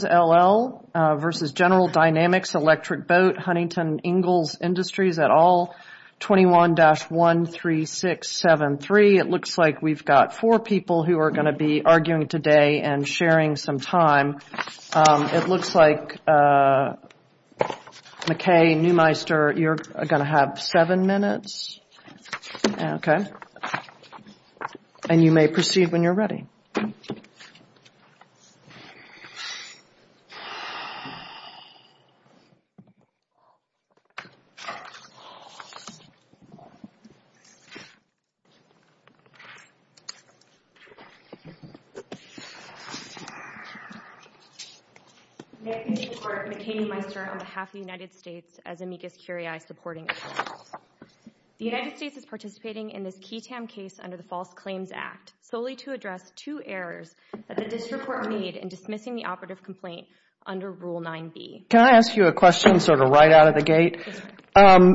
Huntington Ingalls Industries at all. 21-13673. It looks like we've got four people who are going to be arguing today and sharing some time. It looks like, McKay, Neumeister, you're going to have seven minutes. Okay. And you may proceed when you're ready. McKay, Meister, on behalf of the United States. As amicus curiae supporting. The United States is participating in this key tam case under the False Claims Act solely to address two errors that the district court made in dismissing the operative complaint for the breach of the operative complaint. under Rule 9B. Can I ask you a question sort of right out of the gate?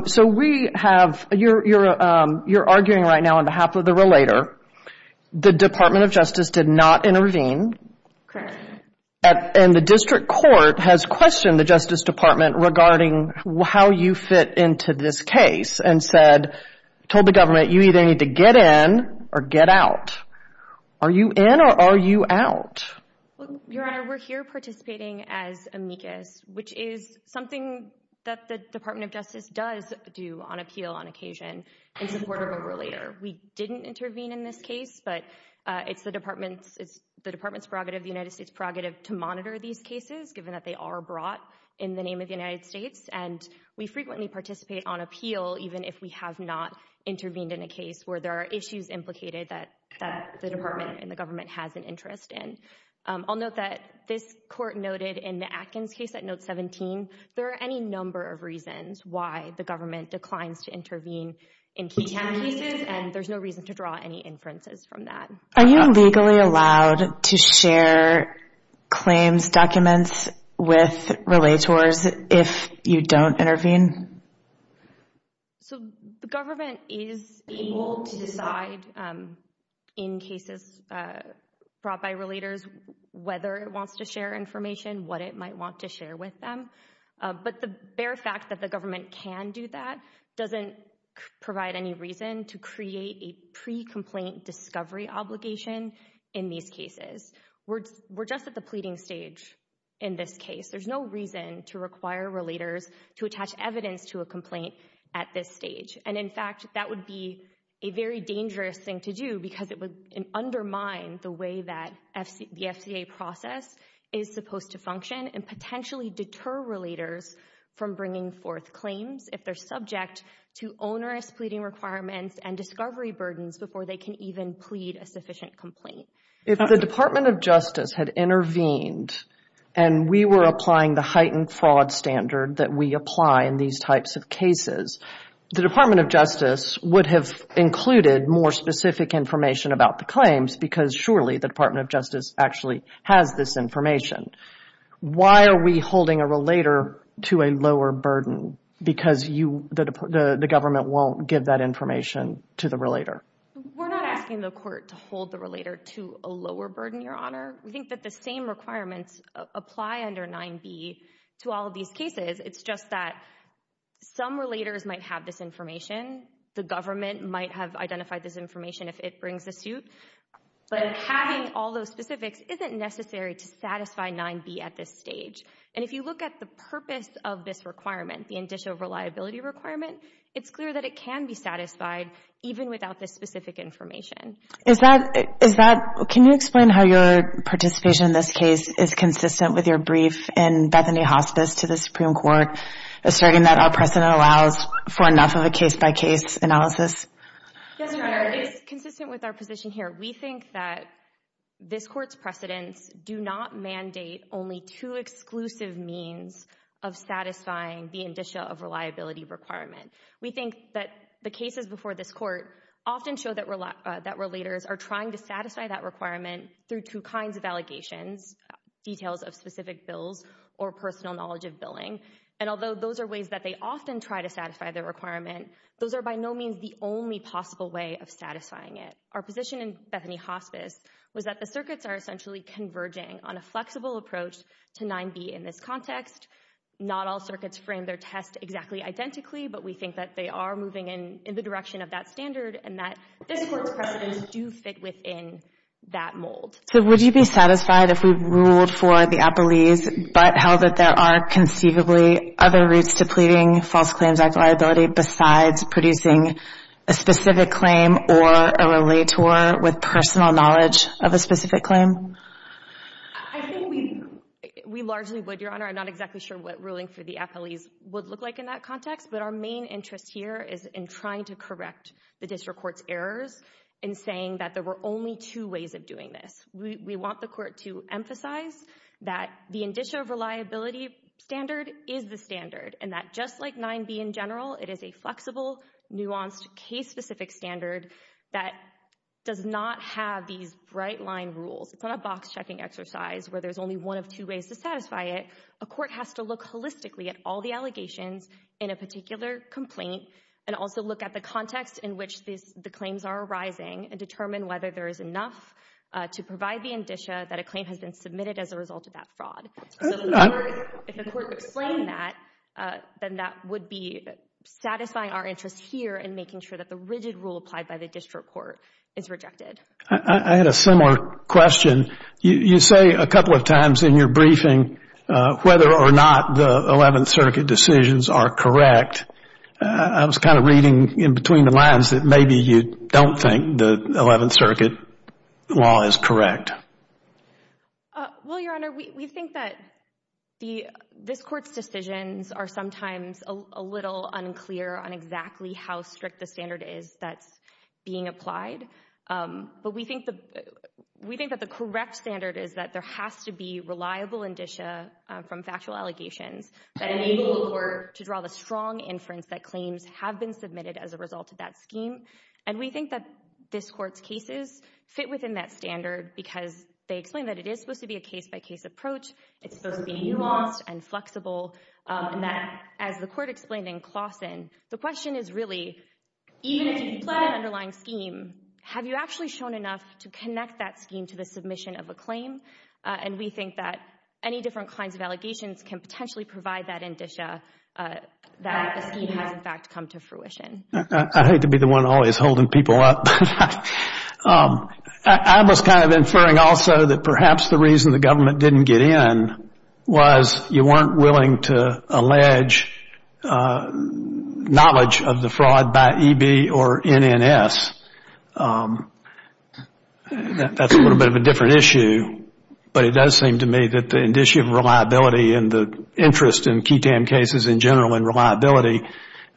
So we have, you're arguing right now on behalf of the relator. The Department of Justice did not intervene. Correct. And the district court has questioned the Justice Department regarding how you fit into this case and said, told the government you either need to get in or get out. Are you in or are you out? Your Honor, we're here participating as amicus, which is something that the Department of Justice does do on appeal on occasion in support of a relator. We didn't intervene in this case, but it's the department's. It's the department's prerogative. The United States prerogative to monitor these cases, given that they are brought in the name of the United States. And we frequently participate on appeal, even if we have not intervened in a case where there are issues implicated that the department and the government has an interest in. I'll note that this court noted in the Atkins case at note 17, there are any number of reasons why the government declines to intervene in key cases. And there's no reason to draw any inferences from that. Are you legally allowed to share claims documents with relators if you don't intervene? So the government is able to decide in cases brought by relators whether it wants to share information, what it might want to share with them. But the bare fact that the government can do that doesn't provide any reason to create a pre-complaint discovery obligation in these cases. We're just at the pleading stage in this case. There's no reason to require relators to attach evidence to a complaint at this stage. And in fact, that would be a very dangerous thing to do because it would undermine the way that the FCA process is supposed to function and potentially deter relators from bringing forth claims if they're subject to onerous pleading requirements and discovery burdens before they can even plead a sufficient complaint. If the Department of Justice had intervened and we were applying the heightened fraud standard that we apply in these types of cases, the Department of Justice would have included more specific information about the claims because surely the Department of Justice actually has this information. Why are we holding a relator to a lower burden? Because the government won't give that information to the relator. We're not asking the court to hold the relator to a lower burden, Your Honor. We think that the same requirements apply under 9b to all of these cases. It's just that some relators might have this information. The government might have identified this information if it brings a suit. But having all those specifics isn't necessary to satisfy 9b at this stage. And if you look at the purpose of this requirement, the indicia of reliability requirement, it's clear that it can be satisfied even without this specific information. Can you explain how your participation in this case is consistent with your brief in Bethany Hospice to the Supreme Court asserting that our precedent allows for enough of a case-by-case analysis? Yes, Your Honor. It is consistent with our position here. We think that this court's precedents do not mandate only two exclusive means of satisfying the indicia of reliability requirement. We think that the cases before this court often show that relators are trying to satisfy that requirement through two kinds of allegations, details of specific bills or personal knowledge of billing. And although those are ways that they often try to satisfy the requirement, those are by no means the only possible way of satisfying it. Our position in Bethany Hospice was that the circuits are essentially converging on a flexible approach to 9b in this context. Not all circuits frame their test exactly identically, but we think that they are moving in the direction of that standard and that this court's precedents do fit within that mold. So would you be satisfied if we ruled for the appellees but held that there are conceivably other routes to pleading False Claims Act liability besides producing a specific claim or a relator with personal knowledge of a specific claim? I think we largely would, Your Honor. I'm not exactly sure what ruling for the appellees would look like in that context, but our main interest here is in trying to correct the district court's errors in saying that there were only two ways of doing this. We want the court to emphasize that the indicia of reliability standard is the standard and that just like 9b in general, it is a flexible, nuanced, case-specific standard that does not have these bright line rules. It's not a box-checking exercise where there's only one of two ways to satisfy it. A court has to look holistically at all the allegations in a particular complaint and also look at the context in which the claims are arising and determine whether there is enough to provide the indicia that a claim has been submitted as a result of that fraud. So if the court would explain that, then that would be satisfying our interest here in making sure that the rigid rule applied by the district court is rejected. I had a similar question. You say a couple of times in your briefing whether or not the Eleventh Circuit decisions are correct. I was kind of reading in between the lines that maybe you don't think the Eleventh Circuit law is correct. Well, Your Honor, we think that this court's decisions are sometimes a little unclear on exactly how strict the standard is that's being applied. But we think that the correct standard is that there has to be reliable indicia from factual allegations that enable the court to draw the strong inference that claims have been submitted as a result of that scheme. And we think that this court's cases fit within that standard because they explain that it is supposed to be a case-by-case approach. It's supposed to be nuanced and flexible and that, as the court explained in Claussen, the question is really, even if you apply an underlying scheme, have you actually shown enough to connect that scheme to the submission of a claim? And we think that any different kinds of allegations can potentially provide that indicia that a scheme has, in fact, come to fruition. I hate to be the one always holding people up. I was kind of inferring also that perhaps the reason the government didn't get in was you weren't willing to allege knowledge of the fraud by EB or NNS. That's a little bit of a different issue, but it does seem to me that the indicia of reliability and the interest in QI-TAM cases in general in reliability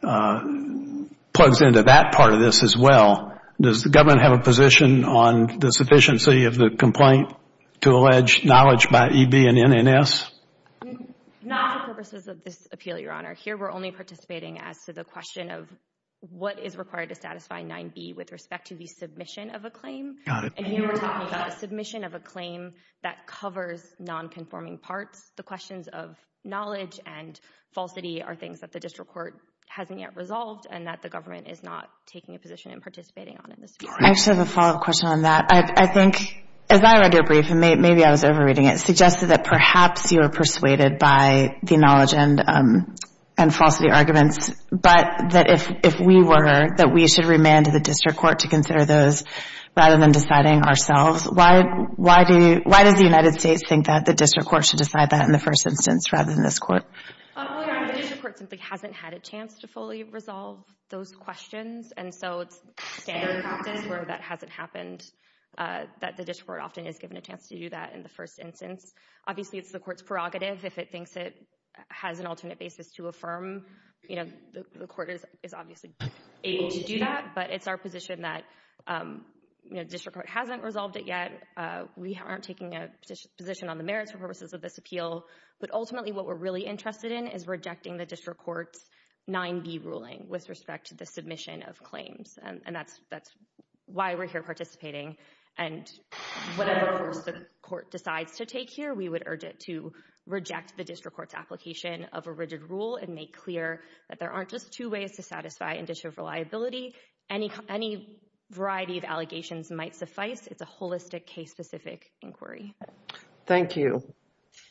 plugs into that part of this as well. Does the government have a position on the sufficiency of the complaint to allege knowledge by EB and NNS? Not for purposes of this appeal, Your Honor. Here we're only participating as to the question of what is required to satisfy 9B with respect to the submission of a claim. And here we're talking about a submission of a claim that covers nonconforming parts. The questions of knowledge and falsity are things that the district court hasn't yet resolved and that the government is not taking a position and participating on in this case. I just have a follow-up question on that. I think, as I read your brief, and maybe I was over-reading it, it suggested that perhaps you were persuaded by the knowledge and falsity arguments, but that if we were, that we should remand the district court to consider those rather than deciding ourselves. Why does the United States think that the district court should decide that in the first instance rather than this court? Your Honor, the district court simply hasn't had a chance to fully resolve those questions, and so it's standard practice where that hasn't happened, that the district court often is given a chance to do that in the first instance. Obviously, it's the court's prerogative. If it thinks it has an alternate basis to affirm, the court is obviously able to do that. But it's our position that the district court hasn't resolved it yet. We aren't taking a position on the merits for purposes of this appeal. But ultimately, what we're really interested in is rejecting the district court's 9B ruling with respect to the submission of claims, and that's why we're here participating. And whatever course the court decides to take here, we would urge it to reject the district court's application of a rigid rule and make clear that there aren't just two ways to satisfy indicative reliability. Any variety of allegations might suffice. It's a holistic, case-specific inquiry. Thank you.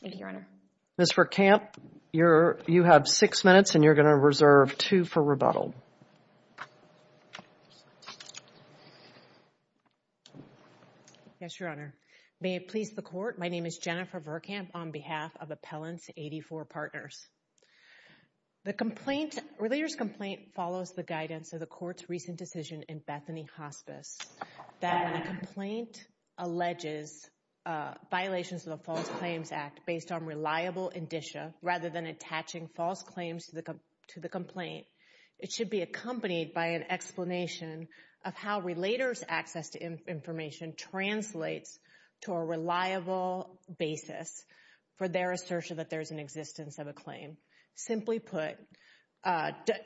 Thank you, Your Honor. Ms. Verkamp, you have six minutes, and you're going to reserve two for rebuttal. Yes, Your Honor. May it please the court, my name is Jennifer Verkamp on behalf of Appellants 84 Partners. The complaint, or the leader's complaint, follows the guidance of the court's recent decision in Bethany Hospice that when a complaint alleges violations of the False Claims Act based on reliable indicia, rather than attaching false claims to the complaint, it should be accompanied by an explanation of how a relater's access to information translates to a reliable basis for their assertion that there is an existence of a claim. Simply put,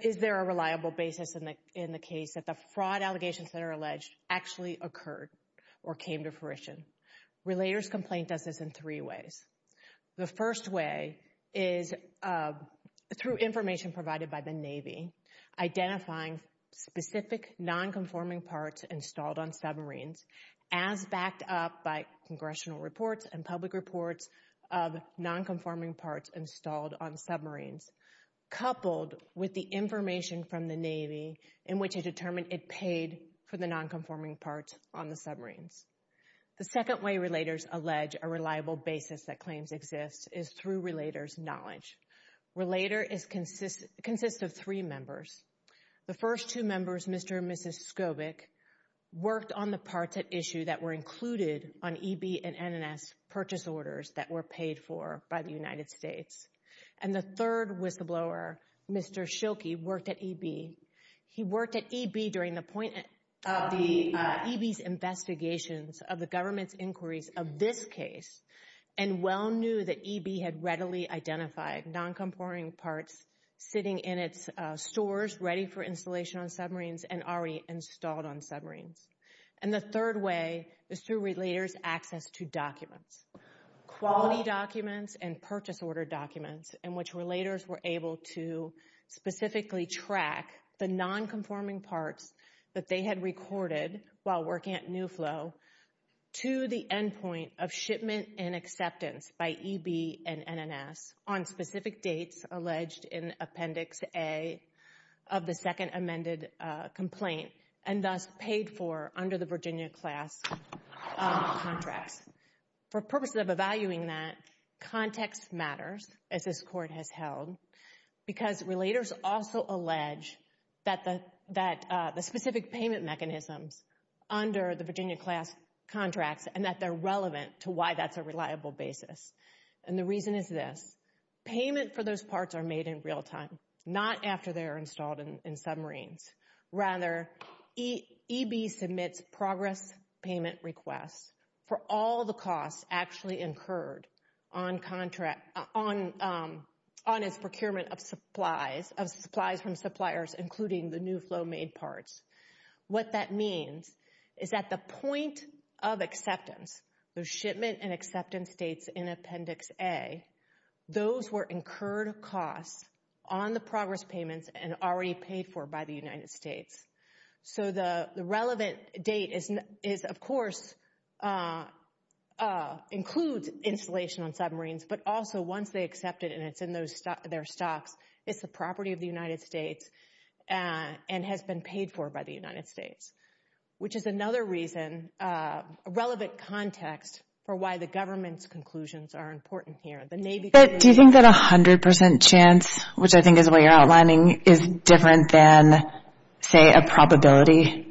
is there a reliable basis in the case that the fraud allegations that are alleged actually occurred or came to fruition? Relater's complaint does this in three ways. The first way is through information provided by the Navy, identifying specific nonconforming parts installed on submarines as backed up by congressional reports and public reports of nonconforming parts installed on submarines, coupled with the information from the Navy in which it determined it paid for the nonconforming parts on the submarines. The second way relaters allege a reliable basis that claims exist is through relater's knowledge. Relater consists of three members. The first two members, Mr. and Mrs. Skobik, worked on the parts at issue that were included on EB and NNS purchase orders that were paid for by the United States. And the third whistleblower, Mr. Schilke, worked at EB. He worked at EB during the point of EB's investigations of the government's inquiries of this case and well knew that EB had readily identified nonconforming parts sitting in its stores ready for installation on submarines and already installed on submarines. And the third way is through relater's access to documents, quality documents and purchase order documents, in which relaters were able to specifically track the nonconforming parts that they had recorded while working at New Flow to the endpoint of shipment and acceptance by EB and NNS on specific dates alleged in Appendix A of the second amended complaint and thus paid for under the Virginia class contracts. For purposes of evaluating that, context matters, as this court has held, because relaters also allege that the specific payment mechanisms under the Virginia class contracts and that they're relevant to why that's a reliable basis. And the reason is this. Payment for those parts are made in real time, not after they're installed in submarines. Rather, EB submits progress payment requests for all the costs actually incurred on contract, on its procurement of supplies, of supplies from suppliers, including the New Flow made parts. What that means is that the point of acceptance, the shipment and acceptance dates in Appendix A, those were incurred costs on the progress payments and already paid for by the United States. So the relevant date is, of course, includes installation on submarines, but also once they accept it and it's in their stocks, it's the property of the United States and has been paid for by the United States, which is another reason, a relevant context for why the government's conclusions are important here. Do you think that a hundred percent chance, which I think is what you're outlining, is different than, say, a probability?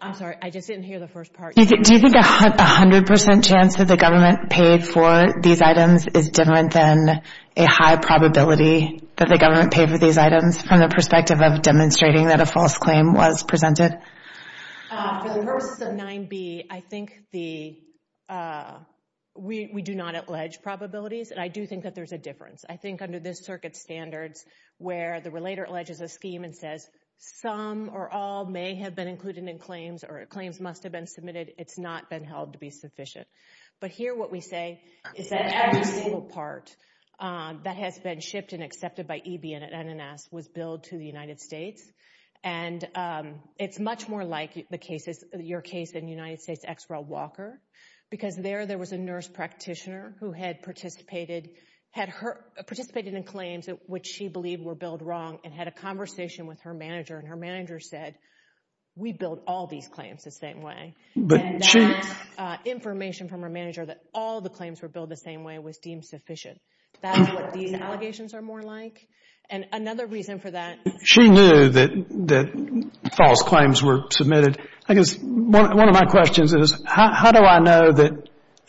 I'm sorry, I just didn't hear the first part. Do you think a hundred percent chance that the government paid for these items is different than a high probability that the government paid for these items from the perspective of demonstrating that a false claim was presented? For the purposes of 9B, I think we do not allege probabilities, and I do think that there's a difference. I think under this circuit standards where the relator alleges a scheme and says, some or all may have been included in claims or claims must have been submitted, it's not been held to be sufficient. But here what we say is that every single part that has been shipped and accepted by EBN at NNS was billed to the United States, and it's much more like your case in United States ex-Ral Walker, because there there was a nurse practitioner who had participated in claims which she believed were billed wrong and had a conversation with her manager, and her manager said, we billed all these claims the same way. And that information from her manager that all the claims were billed the same way was deemed sufficient. That's what these allegations are more like, and another reason for that is She knew that false claims were submitted. I guess one of my questions is, how do I know that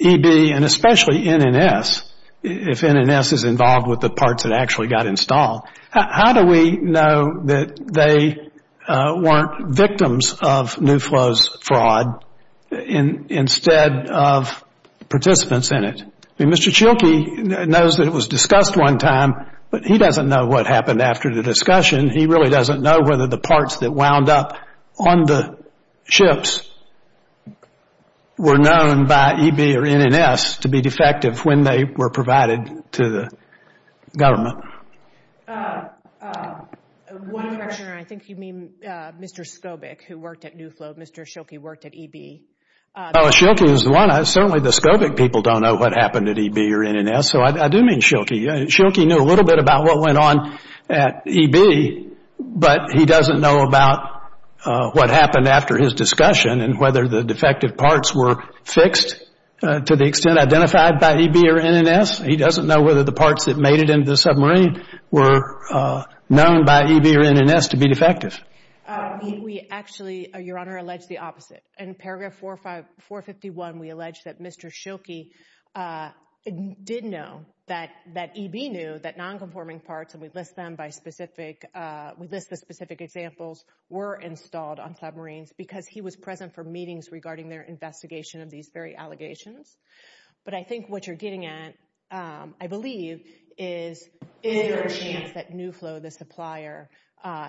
EB, and especially NNS, if NNS is involved with the parts that actually got installed, how do we know that they weren't victims of New Flow's fraud instead of participants in it? I mean, Mr. Schilke knows that it was discussed one time, but he doesn't know what happened after the discussion. He really doesn't know whether the parts that wound up on the ships were known by EB or NNS to be defective when they were provided to the government. One question, and I think you mean Mr. Skobik who worked at New Flow. Mr. Schilke worked at EB. Schilke is the one. Certainly the Skobik people don't know what happened at EB or NNS, so I do mean Schilke. Schilke knew a little bit about what went on at EB, but he doesn't know about what happened after his discussion and whether the defective parts were fixed to the extent identified by EB or NNS. He doesn't know whether the parts that made it into the submarine were known by EB or NNS to be defective. We actually, Your Honor, allege the opposite. In paragraph 451, we allege that Mr. Schilke did know that EB knew that nonconforming parts, and we list the specific examples, were installed on submarines because he was present for meetings regarding their investigation of these very allegations. But I think what you're getting at, I believe, is is there a chance that New Flow, the supplier,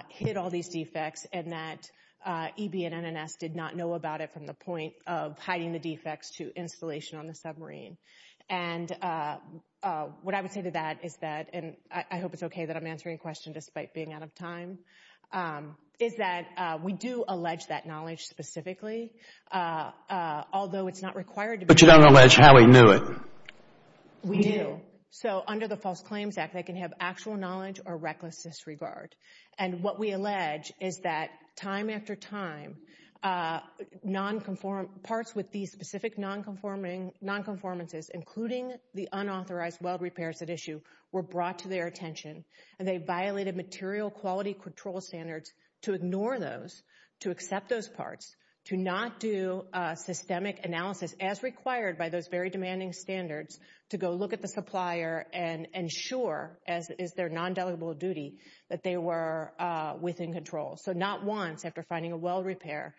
hid all these defects and that EB and NNS did not know about it from the point of hiding the defects to installation on the submarine. And what I would say to that is that, and I hope it's okay that I'm answering a question despite being out of time, is that we do allege that knowledge specifically, although it's not required to be. But you don't allege how he knew it. We do. So under the False Claims Act, they can have actual knowledge or reckless disregard. And what we allege is that time after time, parts with these specific nonconformances, including the unauthorized weld repairs at issue, were brought to their attention, and they violated material quality control standards to ignore those, to accept those parts, to not do systemic analysis, as required by those very demanding standards, to go look at the supplier and ensure, as is their non-delegable duty, that they were within control. So not once after finding a weld repair,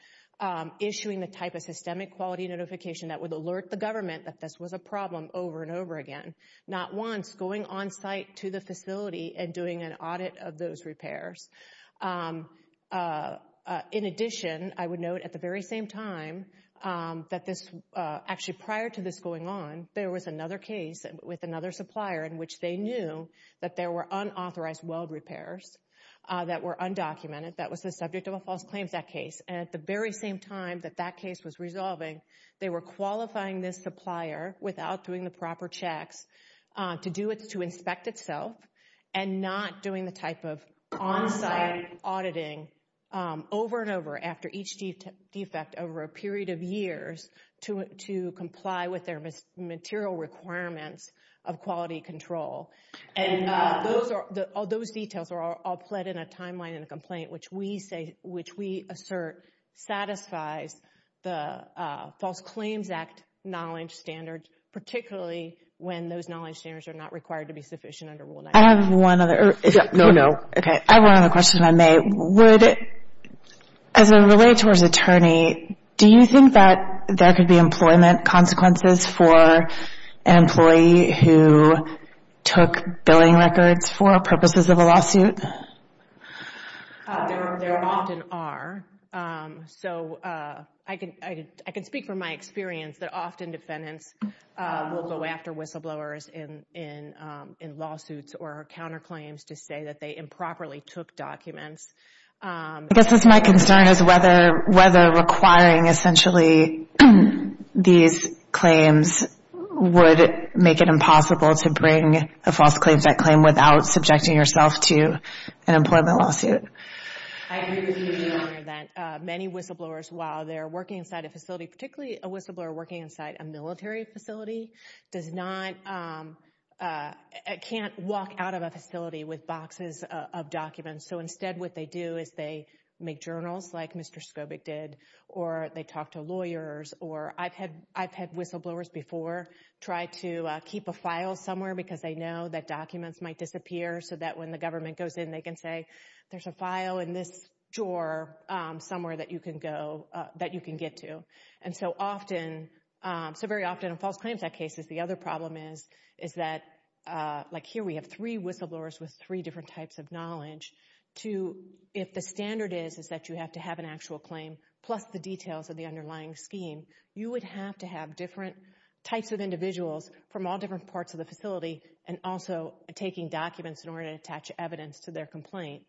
issuing the type of systemic quality notification that would alert the government that this was a problem over and over again, not once going on site to the facility and doing an audit of those repairs. In addition, I would note at the very same time that this, actually prior to this going on, there was another case with another supplier in which they knew that there were unauthorized weld repairs that were undocumented. That was the subject of a False Claims Act case. And at the very same time that that case was resolving, they were qualifying this supplier without doing the proper checks to inspect itself and not doing the type of on-site auditing over and over after each defect over a period of years to comply with their material requirements of quality control. And all those details are all pled in a timeline in a complaint, which we assert satisfies the False Claims Act knowledge standard, particularly when those knowledge standards are not required to be sufficient under Rule 9. I have one other. No, no. Okay. I have one other question if I may. As a relator's attorney, do you think that there could be employment consequences for an employee who took billing records for purposes of a lawsuit? There often are. So I can speak from my experience that often defendants will go after whistleblowers in lawsuits or counterclaims to say that they improperly took documents. These claims would make it impossible to bring a False Claims Act claim without subjecting yourself to an employment lawsuit. I agree with you, Your Honor, that many whistleblowers, while they're working inside a facility, particularly a whistleblower working inside a military facility, can't walk out of a facility with boxes of documents. So instead what they do is they make journals, like Mr. Skobik did, or they talk to lawyers. I've had whistleblowers before try to keep a file somewhere because they know that documents might disappear so that when the government goes in they can say, there's a file in this drawer somewhere that you can get to. So very often in False Claims Act cases the other problem is that, like here we have three whistleblowers with three different types of knowledge, if the standard is that you have to have an actual claim plus the details of the underlying scheme, you would have to have different types of individuals from all different parts of the facility and also taking documents in order to attach evidence to their complaint,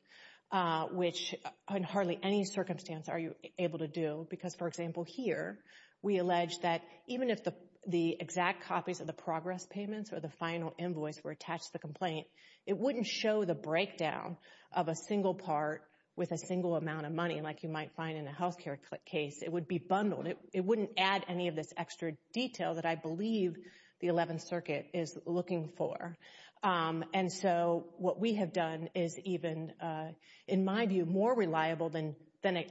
which in hardly any circumstance are you able to do. Because, for example, here we allege that even if the exact copies of the progress payments or the final invoice were attached to the complaint, it wouldn't show the breakdown of a single part with a single amount of money like you might find in a health care case. It would be bundled. It wouldn't add any of this extra detail that I believe the Eleventh Circuit is looking for. And so what we have done is even, in my view, more reliable than,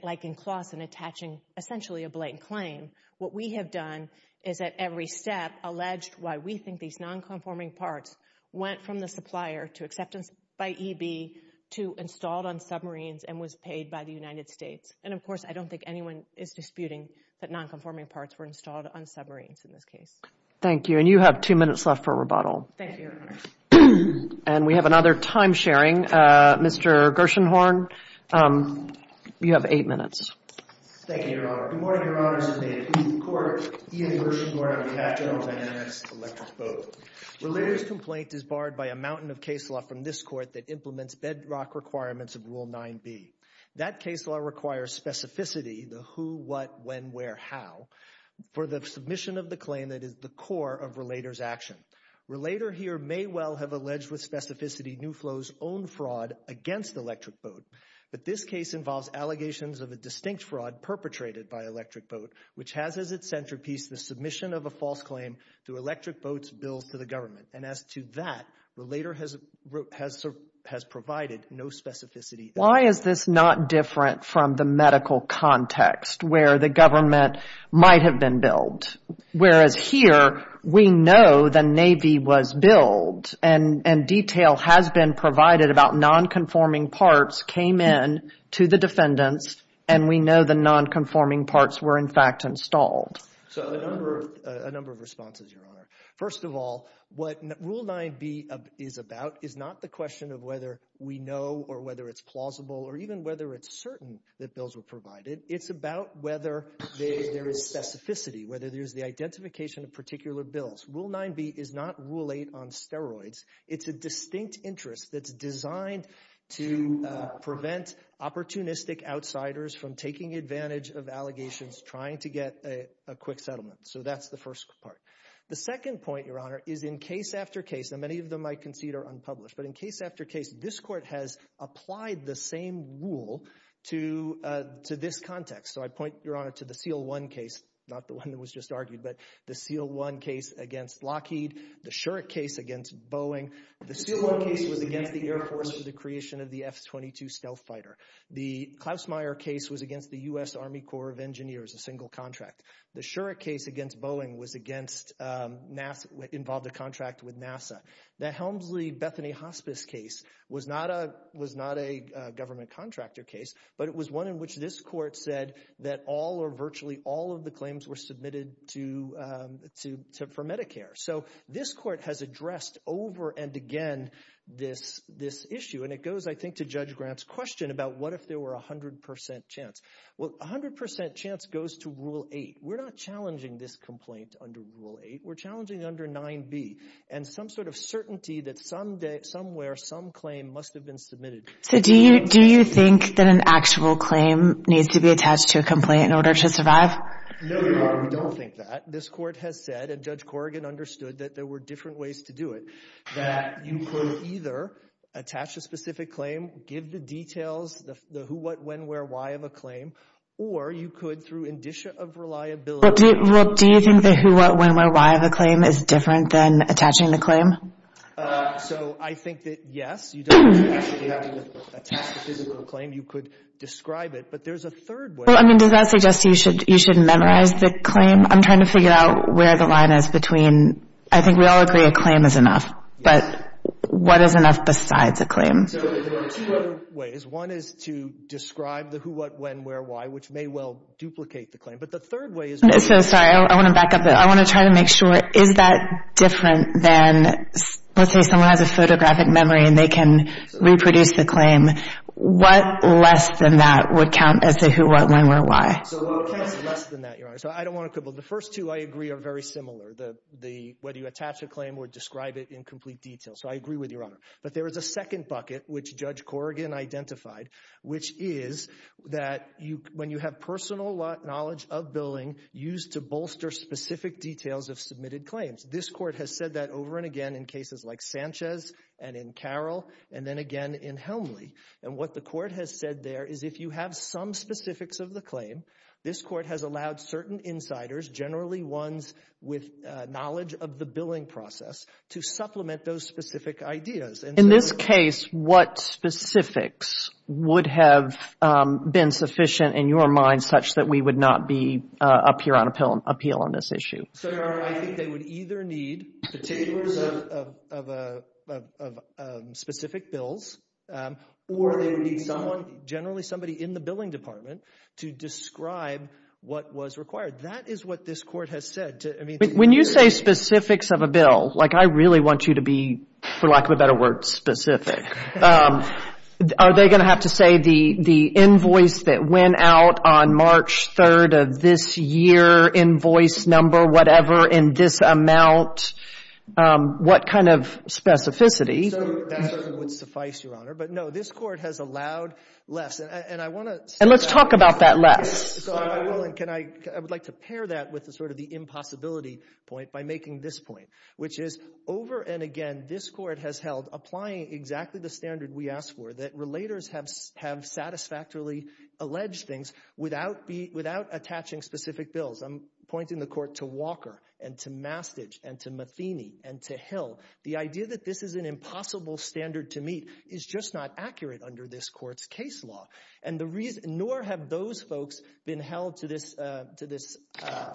like in Klassen, attaching essentially a blatant claim. What we have done is at every step alleged why we think these nonconforming parts went from the supplier to acceptance by EB to installed on submarines and was paid by the United States. And, of course, I don't think anyone is disputing that nonconforming parts were installed on submarines in this case. Thank you. And you have two minutes left for rebuttal. Thank you, Your Honor. And we have another time sharing. Mr. Gershenhorn, you have eight minutes. Thank you, Your Honor. Good morning, Your Honors. May it please the Court, Ian Gershenhorn of the Act General Dynamics, Electric Boat. Relator's complaint is barred by a mountain of case law from this Court that implements bedrock requirements of Rule 9b. That case law requires specificity, the who, what, when, where, how, for the submission of the claim that is the core of Relator's action. Relator here may well have alleged with specificity New Flow's own fraud against Electric Boat, but this case involves allegations of a distinct fraud perpetrated by Electric Boat, which has as its centerpiece the submission of a false claim through Electric Boat's bills to the government. And as to that, Relator has provided no specificity. Why is this not different from the medical context where the government might have been billed? Whereas here, we know the Navy was billed and detail has been provided about nonconforming parts came in to the defendants, and we know the nonconforming parts were in fact installed. So a number of responses, Your Honor. First of all, what Rule 9b is about is not the question of whether we know or whether it's plausible or even whether it's certain that bills were provided. It's about whether there is specificity, whether there's the identification of particular bills. Rule 9b is not Rule 8 on steroids. It's a distinct interest that's designed to prevent opportunistic outsiders from taking advantage of allegations trying to get a quick settlement. So that's the first part. The second point, Your Honor, is in case after case, and many of them I concede are unpublished, but in case after case, this Court has applied the same rule to this context. So I point, Your Honor, to the CL-1 case, not the one that was just argued, but the CL-1 case against Lockheed, the Shurek case against Boeing. The SUBO case was against the Air Force for the creation of the F-22 stealth fighter. The Klausmeier case was against the U.S. Army Corps of Engineers, a single contract. The Shurek case against Boeing involved a contract with NASA. The Helmsley-Bethany hospice case was not a government contractor case, but it was one in which this Court said that all or virtually all of the claims were submitted for Medicare. So this Court has addressed over and again this issue, and it goes, I think, to Judge Grant's question about what if there were a 100% chance. Well, a 100% chance goes to Rule 8. We're not challenging this complaint under Rule 8. We're challenging it under 9B, and some sort of certainty that somewhere some claim must have been submitted. So do you think that an actual claim needs to be attached to a complaint in order to survive? No, Your Honor, we don't think that. This Court has said, and Judge Corrigan understood, that there were different ways to do it, that you could either attach a specific claim, give the details, the who, what, when, where, why of a claim, or you could through indicia of reliability. Well, do you think the who, what, when, where, why of a claim is different than attaching the claim? So I think that, yes, you don't actually have to attach the physical claim. You could describe it. But there's a third way. Well, I mean, does that suggest you should memorize the claim? I'm trying to figure out where the line is between, I think we all agree a claim is enough. Yes. But what is enough besides a claim? So there are two other ways. One is to describe the who, what, when, where, why, which may well duplicate the claim. But the third way is to... I'm so sorry. I want to back up. I want to try to make sure, is that different than let's say someone has a photographic memory and they can reproduce the claim. So what counts less than that, Your Honor? So I don't want to quibble. The first two, I agree, are very similar. Whether you attach a claim or describe it in complete detail. So I agree with you, Your Honor. But there is a second bucket, which Judge Corrigan identified, which is that when you have personal knowledge of billing used to bolster specific details of submitted claims. This Court has said that over and again in cases like Sanchez and in Carroll and then again in Helmley. And what the Court has said there is if you have some specifics of the claim, this Court has allowed certain insiders, generally ones with knowledge of the billing process, to supplement those specific ideas. In this case, what specifics would have been sufficient in your mind such that we would not be up here on appeal on this issue? So, Your Honor, I think they would either need the tables of specific bills or they would need someone, generally somebody in the billing department, to describe what was required. That is what this Court has said. When you say specifics of a bill, I really want you to be, for lack of a better word, specific. Are they going to have to say the invoice that went out on March 3rd of this year, invoice number, whatever, in this amount, what kind of specificity? That would suffice, Your Honor. But, no, this Court has allowed less. And let's talk about that less. I would like to pair that with the impossibility point by making this point, which is, over and again, this Court has held, applying exactly the standard we asked for, that relators have satisfactorily alleged things without attaching specific bills. I'm pointing the Court to Walker and to Mastidge and to Matheny and to Hill. The idea that this is an impossible standard to meet is just not accurate under this Court's case law. And nor have those folks been held to this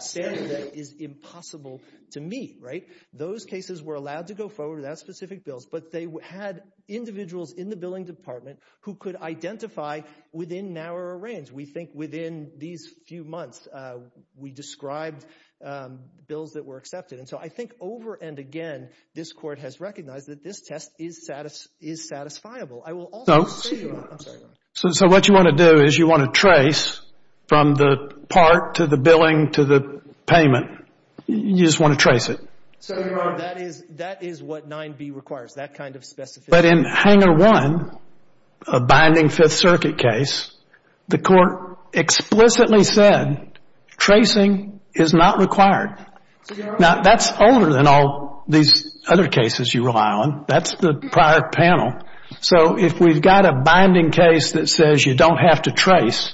standard that is impossible to meet, right? Those cases were allowed to go forward without specific bills, but they had individuals in the billing department who could identify within narrower range. We think within these few months, we described bills that were accepted. And so I think, over and again, this Court has recognized that this test is satisfiable. I will also say, Your Honor. I'm sorry, Your Honor. So what you want to do is you want to trace from the part to the billing to the payment. You just want to trace it. So, Your Honor, that is what 9b requires, that kind of specificity. But in Hanger 1, a binding Fifth Circuit case, the Court explicitly said tracing is not required. Now, that's older than all these other cases you rely on. That's the prior panel. So if we've got a binding case that says you don't have to trace,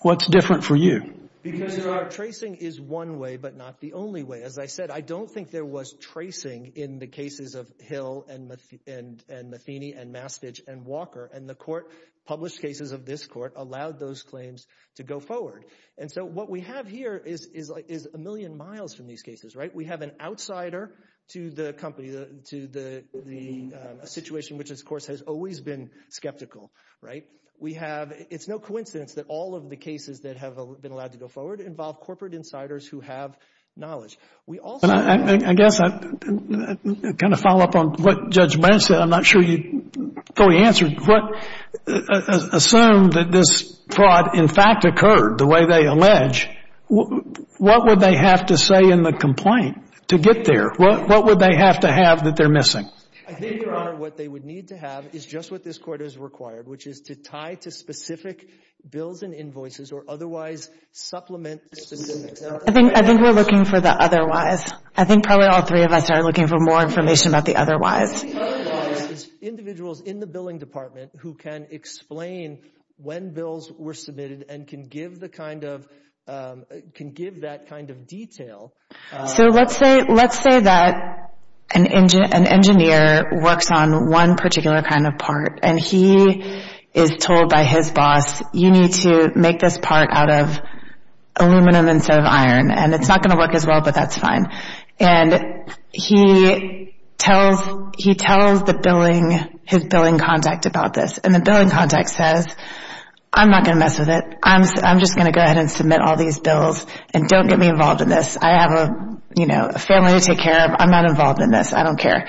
what's different for you? Because tracing is one way, but not the only way. As I said, I don't think there was tracing in the cases of Hill and Matheny and Mastich and Walker. And the Court published cases of this Court allowed those claims to go forward. And so what we have here is a million miles from these cases. We have an outsider to the company, to the situation which, of course, has always been skeptical. It's no coincidence that all of the cases that have been allowed to go forward involve corporate insiders who have knowledge. I guess I kind of follow up on what Judge Branch said. I'm not sure you fully answered. Assume that this fraud in fact occurred the way they allege, what would they have to say in the complaint to get there? What would they have to have that they're missing? I think, Your Honor, what they would need to have is just what this Court has required, which is to tie to specific bills and invoices or otherwise supplement the specifics. I think we're looking for the otherwise. I think probably all three of us are looking for more information about the otherwise. Individuals in the billing department who can explain when bills were submitted and can give that kind of detail. So let's say that an engineer works on one particular kind of part, and he is told by his boss, you need to make this part out of aluminum instead of iron, and it's not going to work as well, but that's fine. He tells his billing contact about this, and the billing contact says, I'm not going to mess with it. I'm just going to go ahead and submit all these bills and don't get me involved in this. I have a family to take care of. I'm not involved in this. I don't care.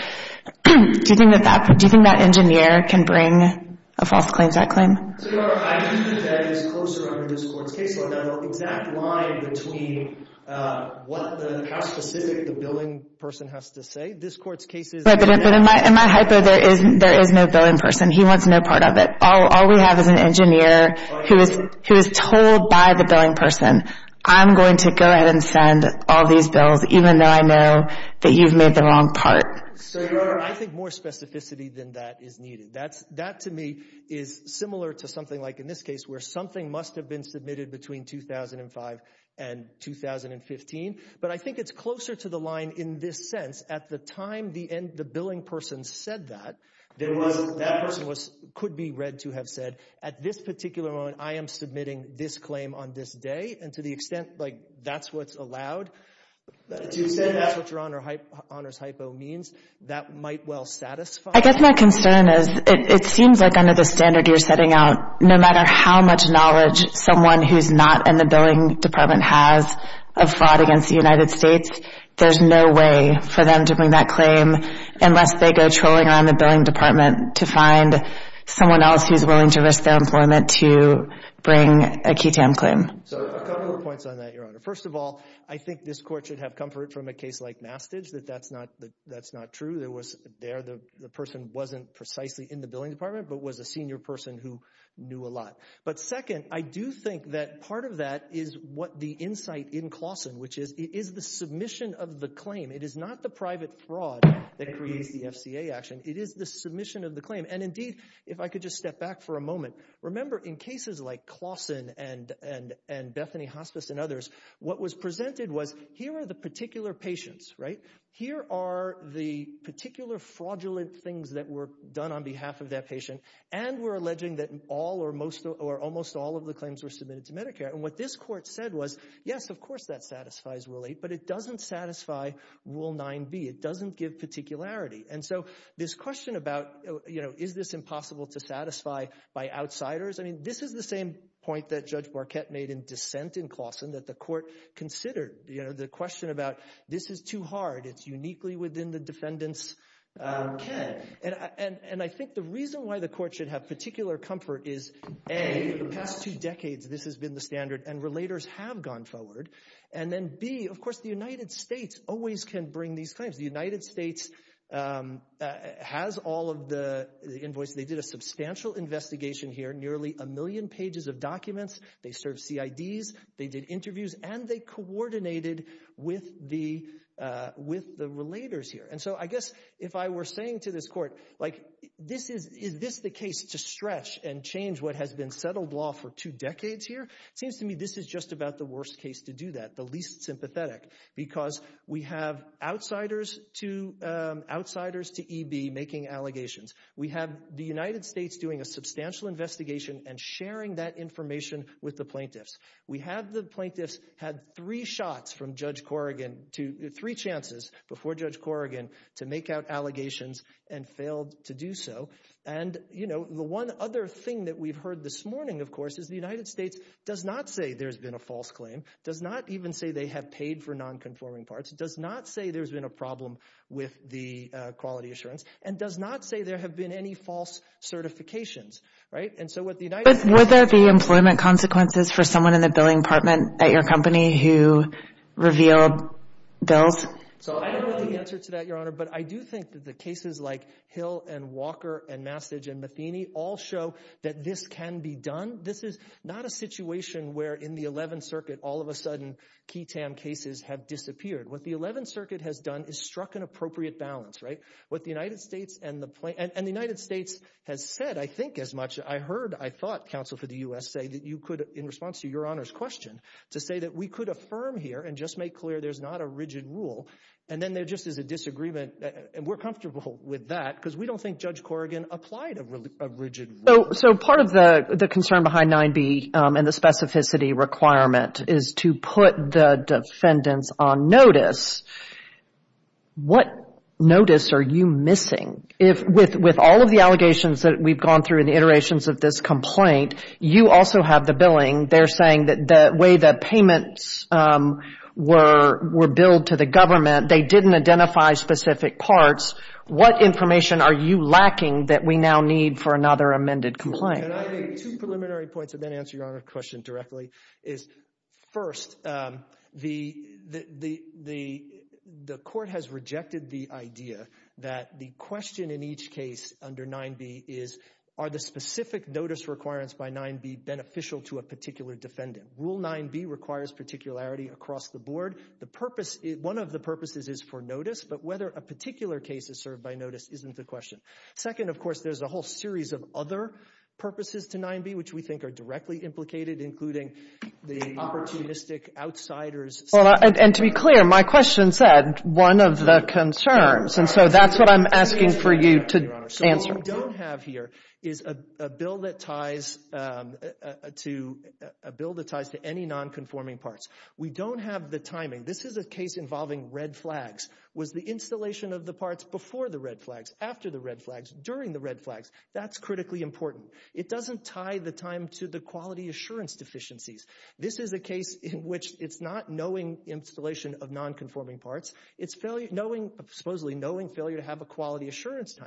Do you think that engineer can bring a false claim to that claim? Your Honor, I think that is closer under this Court's case law. I don't know the exact line between how specific the billing person has to say. This Court's case is— But in my hypo, there is no billing person. He wants no part of it. All we have is an engineer who is told by the billing person, I'm going to go ahead and send all these bills, even though I know that you've made the wrong part. So, Your Honor, I think more specificity than that is needed. That, to me, is similar to something like in this case where something must have been submitted between 2005 and 2015. But I think it's closer to the line in this sense. At the time the billing person said that, that person could be read to have said, at this particular moment, I am submitting this claim on this day. And to the extent that's what's allowed, to the extent that's what Your Honor's hypo means, that might well satisfy— I guess my concern is it seems like under the standard you're setting out, no matter how much knowledge someone who's not in the billing department has of fraud against the United States, there's no way for them to bring that claim unless they go trolling around the billing department to find someone else who's willing to risk their employment to bring a QI-TAM claim. So, a couple of points on that, Your Honor. First of all, I think this Court should have comfort from a case like Mastidge that that's not true. There, the person wasn't precisely in the billing department but was a senior person who knew a lot. But second, I do think that part of that is what the insight in Claussen, which is it is the submission of the claim. It is not the private fraud that creates the FCA action. It is the submission of the claim. And indeed, if I could just step back for a moment, remember in cases like Claussen and Bethany Hospice and others, what was presented was here are the particular patients, right? Here are the particular fraudulent things that were done on behalf of that patient. And we're alleging that all or most or almost all of the claims were submitted to Medicare. And what this Court said was, yes, of course that satisfies Rule 8, but it doesn't satisfy Rule 9b. It doesn't give particularity. And so this question about, you know, is this impossible to satisfy by outsiders? I mean, this is the same point that Judge Barkett made in dissent in Claussen that the Court considered, you know, the question about this is too hard. It's uniquely within the defendant's ken. And I think the reason why the Court should have particular comfort is, A, for the past two decades this has been the standard and relators have gone forward. And then, B, of course the United States always can bring these claims. The United States has all of the invoices. They did a substantial investigation here, nearly a million pages of documents. They served CIDs. They did interviews. And they coordinated with the relators here. And so I guess if I were saying to this Court, like, is this the case to stretch and change what has been settled law for two decades here? It seems to me this is just about the worst case to do that, the least sympathetic, because we have outsiders to EB making allegations. We have the United States doing a substantial investigation and sharing that information with the plaintiffs. We have the plaintiffs had three shots from Judge Corrigan, three chances before Judge Corrigan to make out allegations and failed to do so. And the one other thing that we've heard this morning, of course, is the United States does not say there's been a false claim, does not even say they have paid for nonconforming parts, does not say there's been a problem with the quality assurance, and does not say there have been any false certifications. But were there the employment consequences for someone in the billing department at your company who revealed bills? So I don't know the answer to that, Your Honor, but I do think that the cases like Hill and Walker and Mastage and Matheny all show that this can be done. This is not a situation where in the 11th Circuit all of a sudden key TAM cases have disappeared. What the 11th Circuit has done is struck an appropriate balance. What the United States and the plaintiffs... I heard, I thought, counsel for the U.S. say that you could, in response to Your Honor's question, to say that we could affirm here and just make clear there's not a rigid rule, and then there just is a disagreement. And we're comfortable with that because we don't think Judge Corrigan applied a rigid rule. So part of the concern behind 9b and the specificity requirement is to put the defendants on notice. What notice are you missing? With all of the allegations that we've gone through in the iterations of this complaint, you also have the billing. They're saying that the way the payments were billed to the government, they didn't identify specific parts. What information are you lacking that we now need for another amended complaint? Can I make two preliminary points and then answer Your Honor's question directly? First, the court has rejected the idea that the question in each case under 9b is, are the specific notice requirements by 9b beneficial to a particular defendant? Rule 9b requires particularity across the board. One of the purposes is for notice, but whether a particular case is served by notice isn't the question. Second, of course, there's a whole series of other purposes to 9b which we think are directly implicated, including the opportunistic outsider's... And to be clear, my question said one of the concerns. And so that's what I'm asking for you to answer. What we don't have here is a bill that ties to any nonconforming parts. We don't have the timing. This is a case involving red flags. Was the installation of the parts before the red flags, after the red flags, during the red flags? That's critically important. It doesn't tie the time to the quality assurance deficiencies. This is a case in which it's not knowing installation of nonconforming parts. It's supposedly knowing failure to have a quality assurance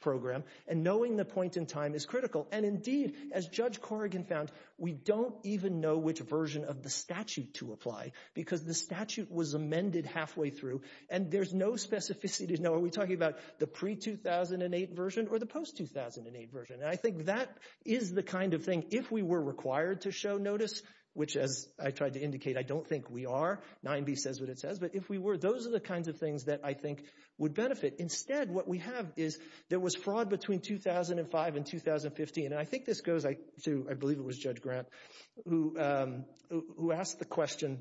program and knowing the point in time is critical. And indeed, as Judge Corrigan found, we don't even know which version of the statute to apply because the statute was amended halfway through and there's no specificity. Are we talking about the pre-2008 version or the post-2008 version? And I think that is the kind of thing, if we were required to show notice, which, as I tried to indicate, I don't think we are. 9B says what it says, but if we were, those are the kinds of things that I think would benefit. Instead, what we have is there was fraud between 2005 and 2015, and I think this goes to, I believe it was Judge Grant, who asked the question,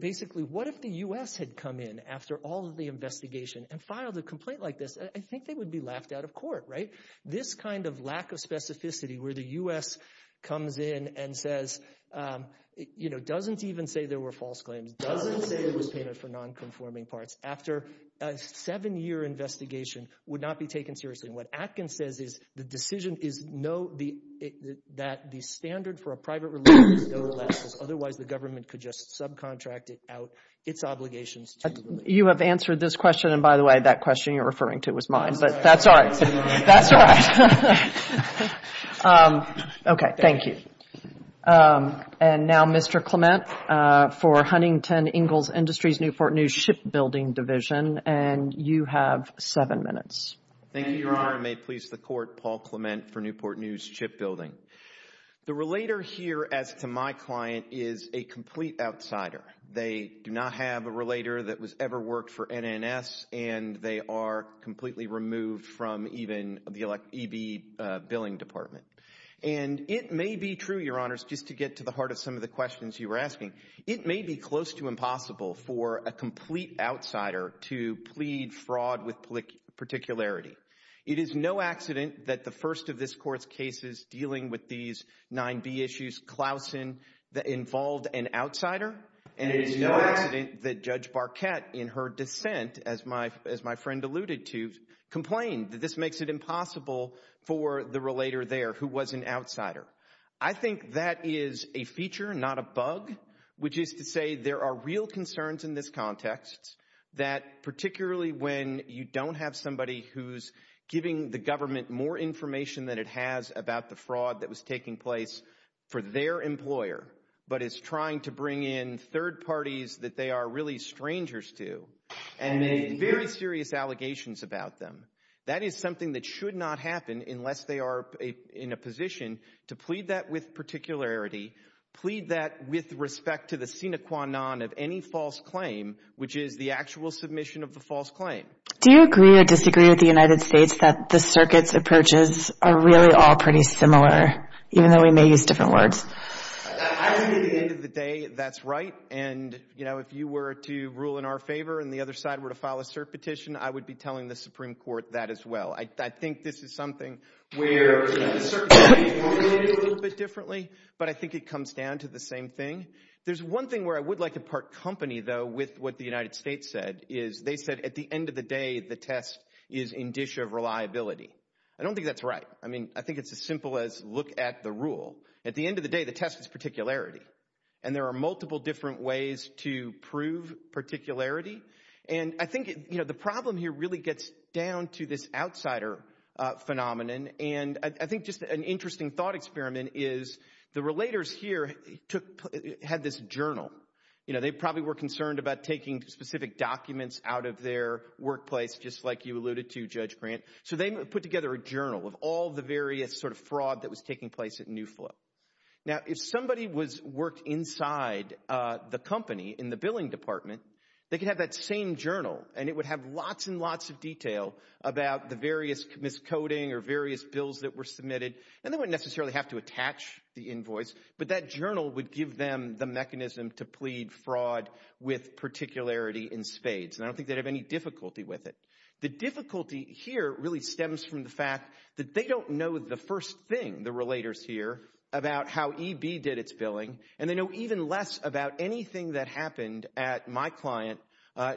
basically, what if the U.S. had come in after all of the investigation and filed a complaint like this? I think they would be laughed out of court, right? This kind of lack of specificity where the U.S. comes in and says, you know, doesn't even say there were false claims, doesn't say it was painted for non-conforming parts, after a seven-year investigation would not be taken seriously. And what Atkins says is the decision is no, that the standard for a private release is no less, otherwise the government could just subcontract it out, its obligations to the... You have answered this question, and by the way, that question you're referring to was mine, but that's all right. That's all right. Okay, thank you. And now Mr. Clement for Huntington Ingalls Industries, Newport News Shipbuilding Division, and you have seven minutes. Thank you, Your Honor. And may it please the Court, Paul Clement for Newport News Shipbuilding. The relater here, as to my client, is a complete outsider. They do not have a relater that has ever worked for NNS, and they are completely removed from even the EB billing department. And it may be true, Your Honors, just to get to the heart of some of the questions you were asking, it may be close to impossible for a complete outsider to plead fraud with particularity. It is no accident that the first of this Court's cases dealing with these 9B issues, Klausen, involved an outsider, and it is no accident that Judge Barquette, in her dissent, as my friend alluded to, complained that this makes it impossible for the relater there, who was an outsider. I think that is a feature, not a bug, which is to say there are real concerns in this context that particularly when you don't have somebody who's giving the government more information than it has about the fraud that was taking place for their employer, but is trying to bring in third parties that they are really strangers to and make very serious allegations about them. That is something that should not happen unless they are in a position to plead that with particularity, plead that with respect to the sine qua non of any false claim, which is the actual submission of the false claim. Do you agree or disagree with the United States that the circuit's approaches are really all pretty similar, even though we may use different words? I think at the end of the day that's right, and if you were to rule in our favor and the other side were to file a cert petition, I would be telling the Supreme Court that as well. I think this is something where the circuit could be formulated a little bit differently, but I think it comes down to the same thing. There's one thing where I would like to part company, though, with what the United States said, is they said at the end of the day the test is in dish of reliability. I don't think that's right. I mean, I think it's as simple as look at the rule. At the end of the day the test is particularity, and there are multiple different ways to prove particularity, and I think the problem here really gets down to this outsider phenomenon, and I think just an interesting thought experiment is the relators here had this journal. They probably were concerned about taking specific documents out of their workplace, just like you alluded to, Judge Grant, so they put together a journal of all the various sort of fraud that was taking place at New Flow. Now, if somebody worked inside the company in the billing department, they could have that same journal, and it would have lots and lots of detail about the various miscoding or various bills that were submitted, and they wouldn't necessarily have to attach the invoice, but that journal would give them the mechanism to plead fraud with particularity in spades, and I don't think they'd have any difficulty with it. The difficulty here really stems from the fact that they don't know the first thing, the relators here, about how EB did its billing, and they know even less about anything that happened at my client,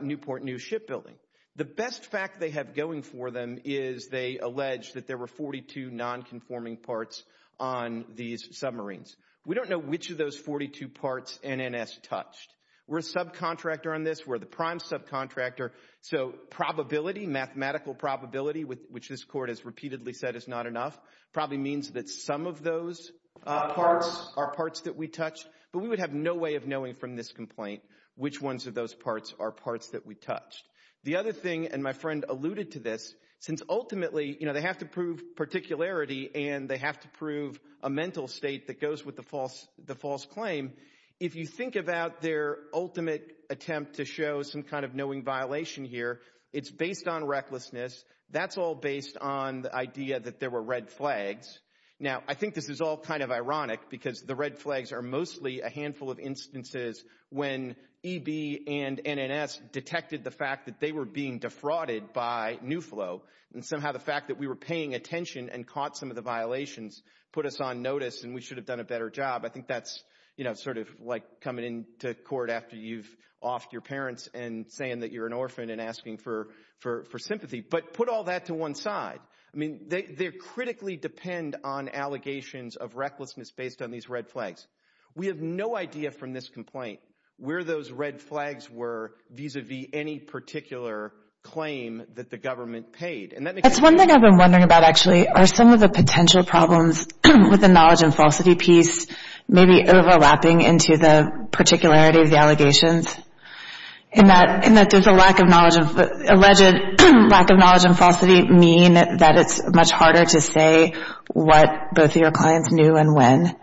Newport News Shipbuilding. The best fact they have going for them is they allege that there were 42 nonconforming parts on these submarines. We don't know which of those 42 parts NNS touched. We're a subcontractor on this. We're the prime subcontractor, so probability, mathematical probability, which this court has repeatedly said is not enough, probably means that some of those parts are parts that we touched, but we would have no way of knowing from this complaint which ones of those parts are parts that we touched. The other thing, and my friend alluded to this, since ultimately they have to prove particularity and they have to prove a mental state that goes with the false claim, if you think about their ultimate attempt to show some kind of knowing violation here, it's based on recklessness. That's all based on the idea that there were red flags. Now, I think this is all kind of ironic because the red flags are mostly a handful of instances when EB and NNS detected the fact that they were being defrauded by Newflow, and somehow the fact that we were paying attention and caught some of the violations put us on notice and we should have done a better job. I think that's sort of like coming into court after you've offed your parents and saying that you're an orphan and asking for sympathy. But put all that to one side. I mean, they critically depend on allegations of recklessness based on these red flags. We have no idea from this complaint where those red flags were vis-à-vis any particular claim that the government paid. That's one thing I've been wondering about, actually. Are some of the potential problems with the knowledge and falsity piece maybe overlapping into the particularity of the allegations in that there's a lack of knowledge... alleged lack of knowledge and falsity mean that it's much harder to say what both of your clients knew and when?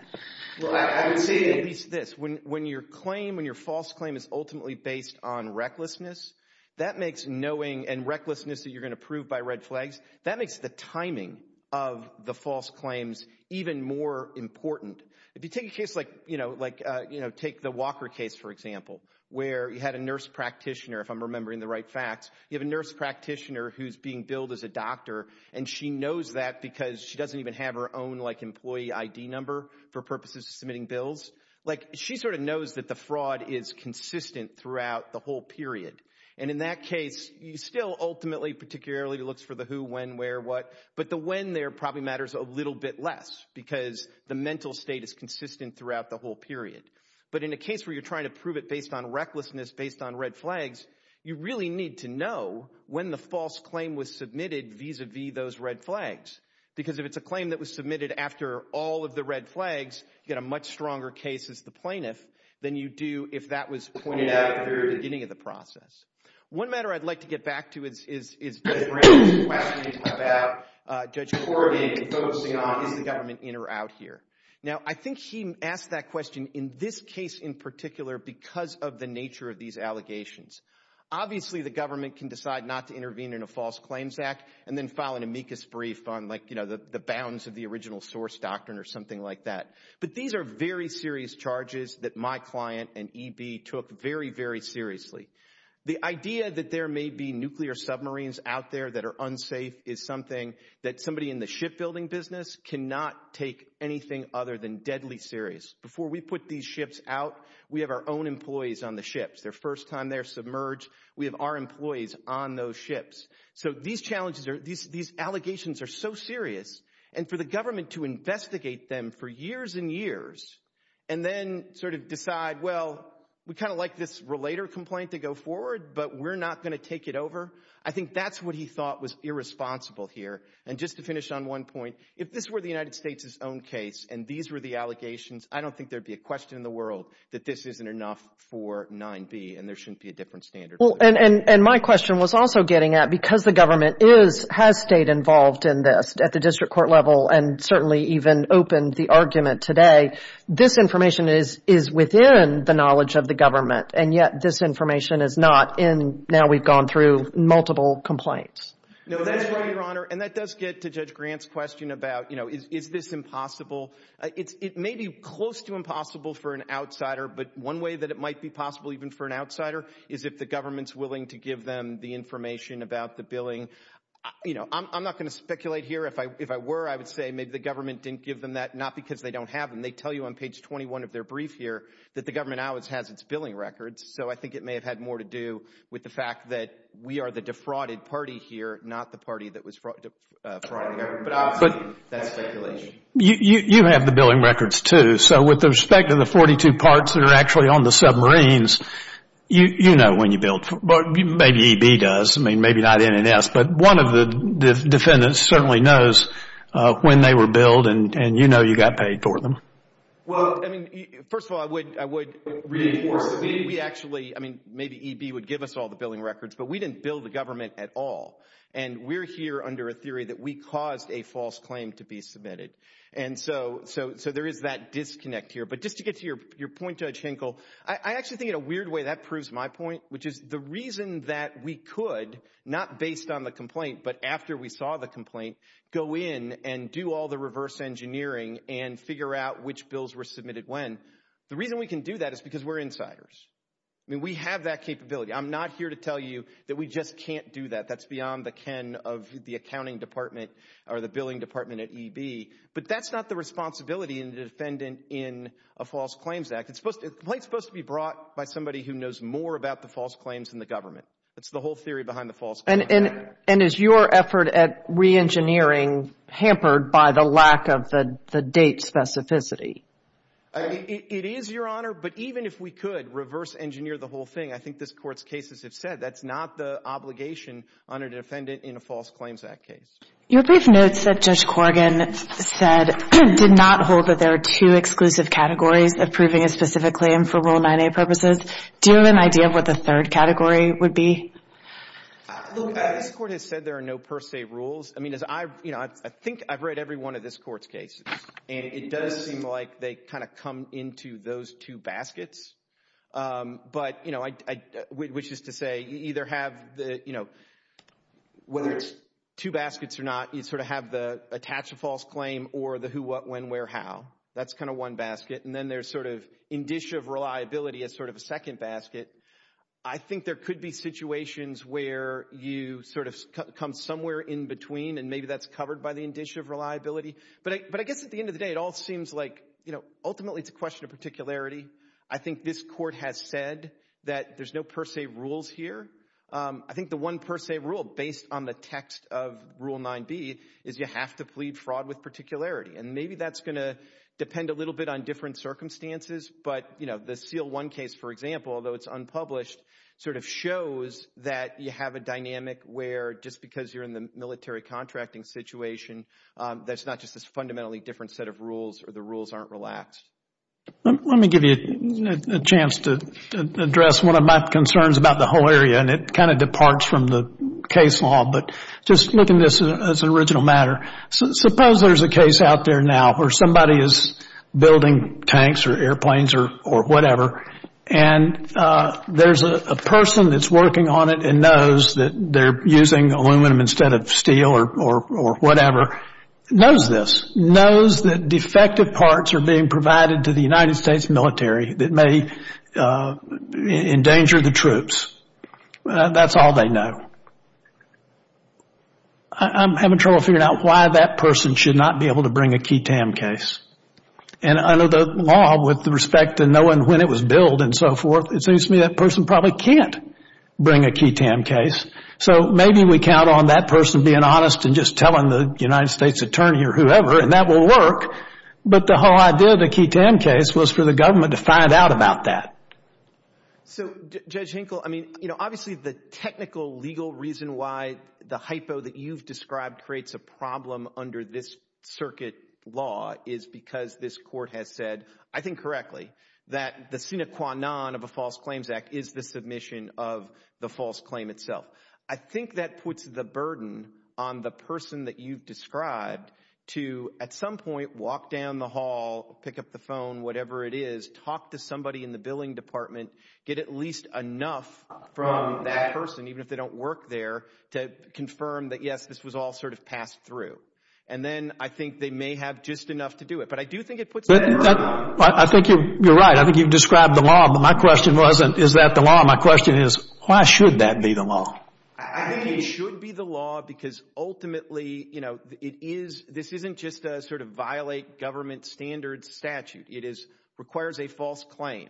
Well, I would say at least this. When your claim, when your false claim is ultimately based on recklessness, that makes knowing and recklessness that you're going to prove by red flags, that makes the timing of the false claims even more important. If you take a case like, you know, take the Walker case, for example, where you had a nurse practitioner, if I'm remembering the right facts, you have a nurse practitioner who's being billed as a doctor, and she knows that because she doesn't even have her own, like, employee ID number for purposes of submitting bills. Like, she sort of knows that the fraud is consistent throughout the whole period. And in that case, you still ultimately particularly looks for the who, when, where, what, but the when there probably matters a little bit less because the mental state is consistent throughout the whole period. But in a case where you're trying to prove it based on recklessness, based on red flags, you really need to know when the false claim was submitted vis-a-vis those red flags. Because if it's a claim that was submitted after all of the red flags, you get a much stronger case as the plaintiff than you do if that was pointed out at the beginning of the process. One matter I'd like to get back to is the question about Judge Corrigan focusing on, is the government in or out here? Now, I think he asked that question in this case in particular because of the nature of these allegations. Obviously, the government can decide not to intervene in a false claims act and then file an amicus brief on, like, you know, the bounds of the original source doctrine or something like that. But these are very serious charges that my client and EB took very, very seriously. The idea that there may be nuclear submarines out there that are unsafe is something that somebody in the shipbuilding business cannot take anything other than deadly serious. Before we put these ships out, we have our own employees on the ships. Their first time they're submerged, we have our employees on those ships. So these challenges are... These allegations are so serious, and for the government to investigate them for years and years and then sort of decide, well, we kind of like this relator complaint to go forward, but we're not going to take it over, I think that's what he thought was irresponsible here. And just to finish on one point, if this were the United States' own case and these were the allegations, I don't think there'd be a question in the world that this isn't enough for 9b and there shouldn't be a different standard. And my question was also getting at, because the government has stayed involved in this at the district court level and certainly even opened the argument today, this information is within the knowledge of the government, and yet this information is not in... Now we've gone through multiple complaints. No, that's right, Your Honor, and that does get to Judge Grant's question about, you know, is this impossible? It may be close to impossible for an outsider, but one way that it might be possible even for an outsider is if the government's willing to give them the information about the billing. You know, I'm not going to speculate here. If I were, I would say maybe the government didn't give them that, not because they don't have them. They tell you on page 21 of their brief here that the government always has its billing records, so I think it may have had more to do with the fact that we are the defrauded party here, not the party that was defrauding everybody. But obviously, that's speculation. You have the billing records too, so with respect to the 42 parts that are actually on the submarines, you know when you billed. Maybe EB does. I mean, maybe not NNS, but one of the defendants certainly knows when they were billed and you know you got paid for them. Well, I mean, first of all, I would reinforce that maybe we actually, I mean, maybe EB would give us all the billing records, but we didn't bill the government at all, and we're here under a theory that we caused a false claim to be submitted. And so there is that disconnect here. But just to get to your point, Judge Henkel, I actually think in a weird way that proves my point, which is the reason that we could, not based on the complaint but after we saw the complaint, go in and do all the reverse engineering and figure out which bills were submitted when. The reason we can do that is because we're insiders. I mean, we have that capability. I'm not here to tell you that we just can't do that. That's beyond the ken of the accounting department or the billing department at EB. But that's not the responsibility of the defendant in a false claims act. The complaint is supposed to be brought by somebody That's the whole theory behind the false claims act. And is your effort at reengineering hampered by the lack of the date specificity? It is, Your Honor. But even if we could reverse engineer the whole thing, I think this Court's cases have said that's not the obligation on a defendant in a false claims act case. Your brief notes that Judge Corrigan said did not hold that there are two exclusive categories approving a specific claim for Rule 9a purposes. Do you have an idea of what the third category would be? This Court has said there are no per se rules. I mean, as I've, you know, I think I've read every one of this Court's cases. And it does seem like they kind of come into those two baskets. But, you know, which is to say you either have the, you know, whether it's two baskets or not, you sort of have the attach a false claim or the who, what, when, where, how. That's kind of one basket. And then there's sort of indicia of reliability as sort of a second basket. I think there could be situations where you sort of come somewhere in between and maybe that's covered by the indicia of reliability. But I guess at the end of the day, it all seems like, you know, ultimately it's a question of particularity. I think this Court has said that there's no per se rules here. I think the one per se rule based on the text of Rule 9b is you have to plead fraud with particularity. And maybe that's going to depend a little bit on different circumstances. But, you know, the Seal I case, for example, although it's unpublished, sort of shows that you have a dynamic where just because you're in the military contracting situation, that's not just this fundamentally different set of rules or the rules aren't relaxed. Let me give you a chance to address one of my concerns about the whole area. And it kind of departs from the case law. But just looking at this as an original matter, suppose there's a case out there now where somebody is building tanks or airplanes or whatever and there's a person that's working on it and knows that they're using aluminum instead of steel or whatever. Knows this. Knows that defective parts are being provided to the United States military that may endanger the troops. That's all they know. I'm having trouble figuring out why that person should not be able to bring a key TAM case. And under the law, with respect to knowing when it was billed and so forth, it seems to me that person probably can't bring a key TAM case. So maybe we count on that person being honest and just telling the United States attorney or whoever and that will work. But the whole idea of the key TAM case was for the government to find out about that. So Judge Hinkle, obviously the technical legal reason why the hypo that you've described creates a problem under this circuit law is because this court has said, I think correctly, that the sine qua non of a false claims act is the submission of the false claim itself. I think that puts the burden on the person that you've described to at some point walk down the hall, pick up the phone, whatever it is, talk to somebody in the billing department, get at least enough from that person, even if they don't work there, to confirm that yes, this was all sort of passed through. And then I think they may have just enough to do it. I think you're right. I think you've described the law, but my question wasn't, is that the law? My question is, why should that be the law? I think it should be the law because ultimately, you know, this isn't just a sort of violate government standards statute. It requires a false claim.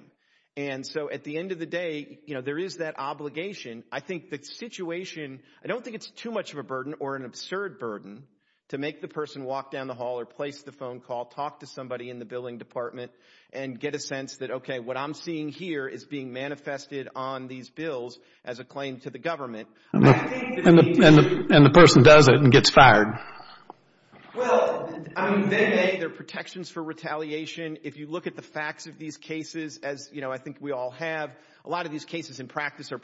And so at the end of the day, you know, there is that obligation. I think the situation, I don't think it's too much of a burden or an absurd burden to make the person walk down the hall or place the phone call, talk to somebody in the billing department and get a sense that, okay, what I'm seeing here is being manifested on these bills as a claim to the government. And the person does it and gets fired. Well, I mean, they make their protections for retaliation. If you look at the facts of these cases, as, you know, I think we all have, a lot of these cases in practice I'm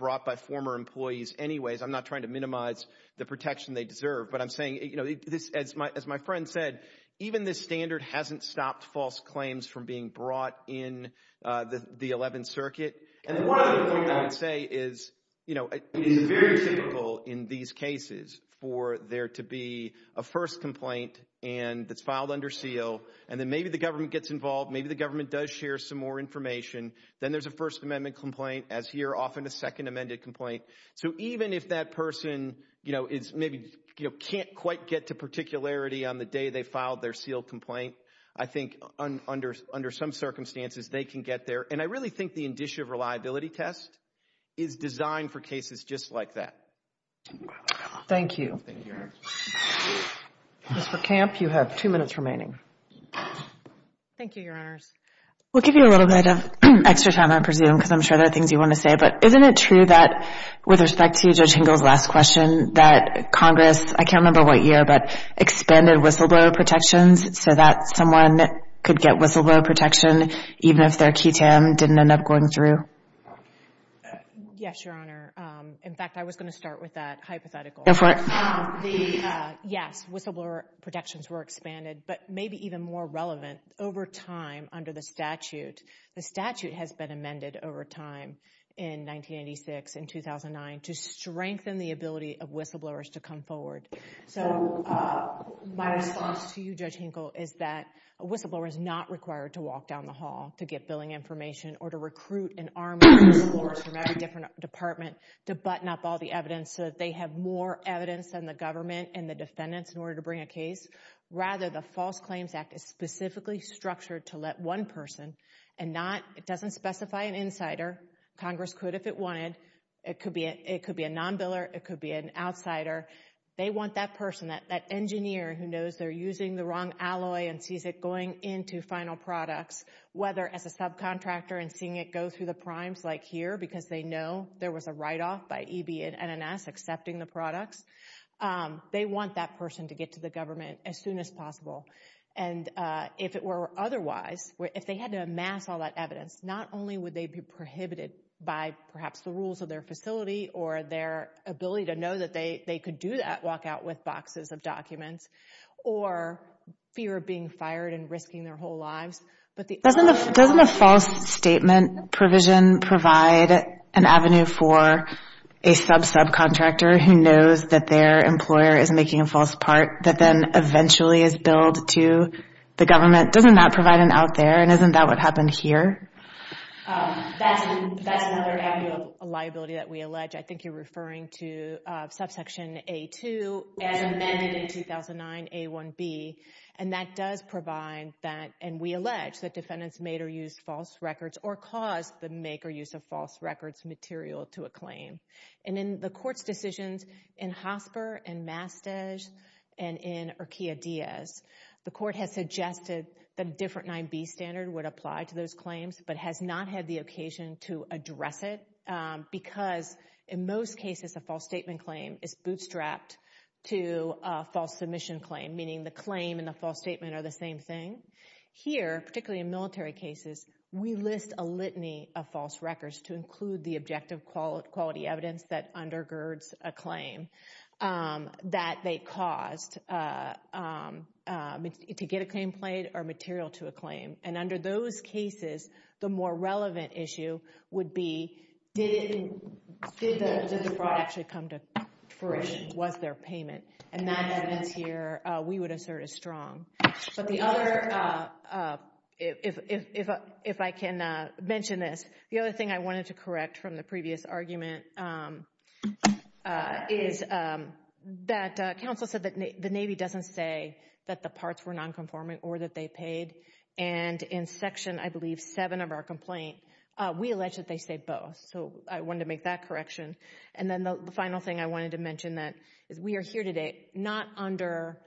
not trying to minimize the protection they deserve, but I'm saying, you know, as my friend said, even this standard hasn't stopped false claims from being brought in the 11th Circuit. And one other point I would say is, you know, it is very typical in these cases for there to be a first complaint and that's filed under seal. And then maybe the government gets involved. Maybe the government does share some more information. Then there's a first amendment complaint as here often a second amended complaint. So even if that person, you know, is maybe, you know, can't quite get to particularity on the day they filed their seal complaint, I think under some circumstances they can get there. And I really think the indicia reliability test is designed for cases just like that. Thank you. Ms. Verkamp, you have two minutes remaining. Thank you, Your Honors. We'll give you a little bit of extra time, I presume, because I'm sure there are things you want to say. But isn't it true that, with respect to Judge Hinkle's last question, that Congress, I can't remember what year, but expanded whistleblower protections so that someone could get whistleblower protection even if their QTAM didn't end up going through? Yes, Your Honor. In fact, I was going to start with that hypothetical. Go for it. Yes, whistleblower protections were expanded. But maybe even more relevant, over time under the statute, the statute has been amended over time in 1986 and 2009 to strengthen the ability of whistleblowers to come forward. So my response to you, Judge Hinkle, is that a whistleblower is not required to walk down the hall to get billing information or to recruit an army of whistleblowers from every different department to button up all the evidence so that they have more evidence than the government and the defendants in order to bring a case. Rather, the False Claims Act is specifically structured to let one person, and it doesn't specify an insider. Congress could if it wanted. It could be a non-biller. It could be an outsider. They want that person, that engineer who knows they're using the wrong alloy and sees it going into final products, whether as a subcontractor and seeing it go through the primes like here because they know there was a write-off by EB and NNS accepting the products. They want that person to get to the government as soon as possible. And if it were otherwise, if they had to amass all that evidence, not only would they be prohibited by perhaps the rules of their facility or their ability to know that they could do that, walk out with boxes of documents, or fear of being fired and risking their whole lives, but the other... Doesn't a false statement provision provide an avenue for a sub-subcontractor who knows that their employer is making a false part that then eventually is billed to the government? Doesn't that provide an out there, and isn't that what happened here? That's another avenue of liability that we allege. I think you're referring to subsection A2 as amended in 2009, A1B, and that does provide that, and we allege that defendants made or used false records or caused the make or use of false records material to a claim. And in the Court's decisions in Hosper and Mastedge and in Urquia-Diaz, the Court has suggested that a different 9b standard would apply to those claims, but has not had the occasion to address it because in most cases a false statement claim is bootstrapped to a false submission claim, meaning the claim and the false statement are the same thing. Here, particularly in military cases, we list a litany of false records to include the objective quality evidence that undergirds a claim that they caused to get a claim played or material to a claim. And under those cases, the more relevant issue would be, did the fraud actually come to fruition? Was there payment? And that evidence here we would assert is strong. But the other... If I can mention this, the other thing I wanted to correct from the previous argument is that counsel said that the Navy doesn't say that the parts were nonconformant or that they paid. And in section, I believe, 7 of our complaint, we allege that they say both. So I wanted to make that correction. And then the final thing I wanted to mention is we are here today not under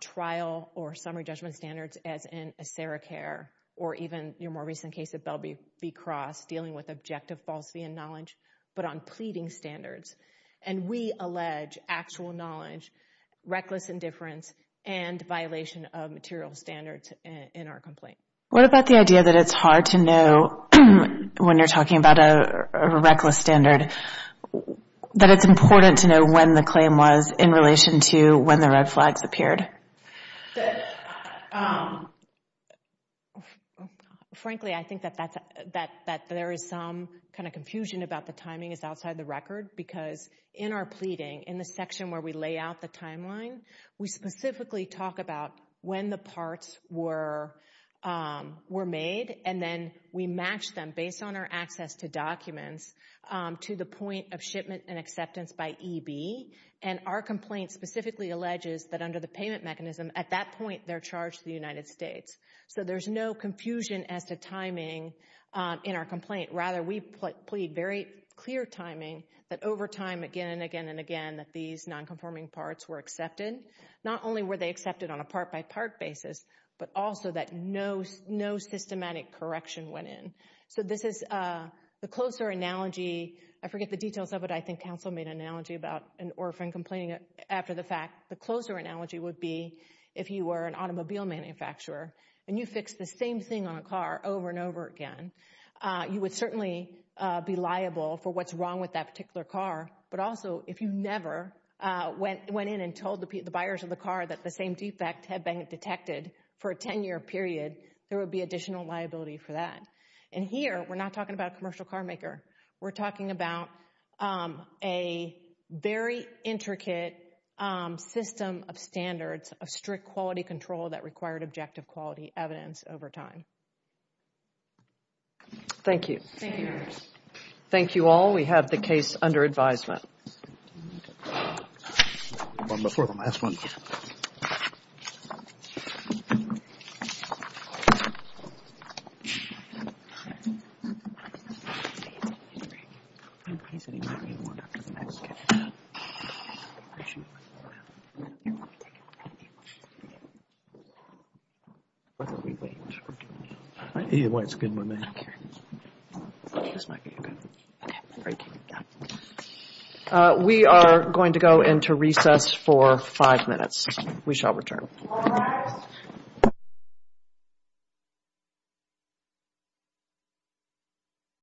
trial or summary judgment standards as in ACERICARE or even your more recent case of Bell v. Cross dealing with objective falsity in knowledge, but on pleading standards. And we allege actual knowledge, reckless indifference, and violation of material standards in our complaint. What about the idea that it's hard to know when you're talking about a reckless standard, that it's important to know when the claim was in relation to when the red flags appeared? Frankly, I think that there is some kind of confusion about the timing is outside the record in the section where we lay out the timeline, we specifically talk about when the parts were made, and then we match them based on our access to documents to the point of shipment and acceptance by EB. And our complaint specifically alleges that under the payment mechanism at that point they're charged to the United States. So there's no confusion as to timing in our complaint. Rather, we plead very clear timing that over time, again and again and again, that these nonconforming parts were accepted. Not only were they accepted on a part-by-part basis, but also that no systematic correction went in. So this is the closer analogy. I forget the details of it. I think counsel made an analogy about an orphan complaining after the fact. The closer analogy would be if you were an automobile manufacturer and you fixed the same thing on a car over and over again, you would certainly be liable for what's wrong with that particular car. But also, if you never went in and told the buyers of the car that the same defect had been detected for a 10-year period, there would be additional liability for that. And here, we're not talking about a commercial carmaker. We're talking about a very intricate system of standards, of strict quality control that required objective quality evidence over time. Thank you. Thank you. Thank you all. We have the case under advisement. We are going to go into recess for five minutes. We shall return.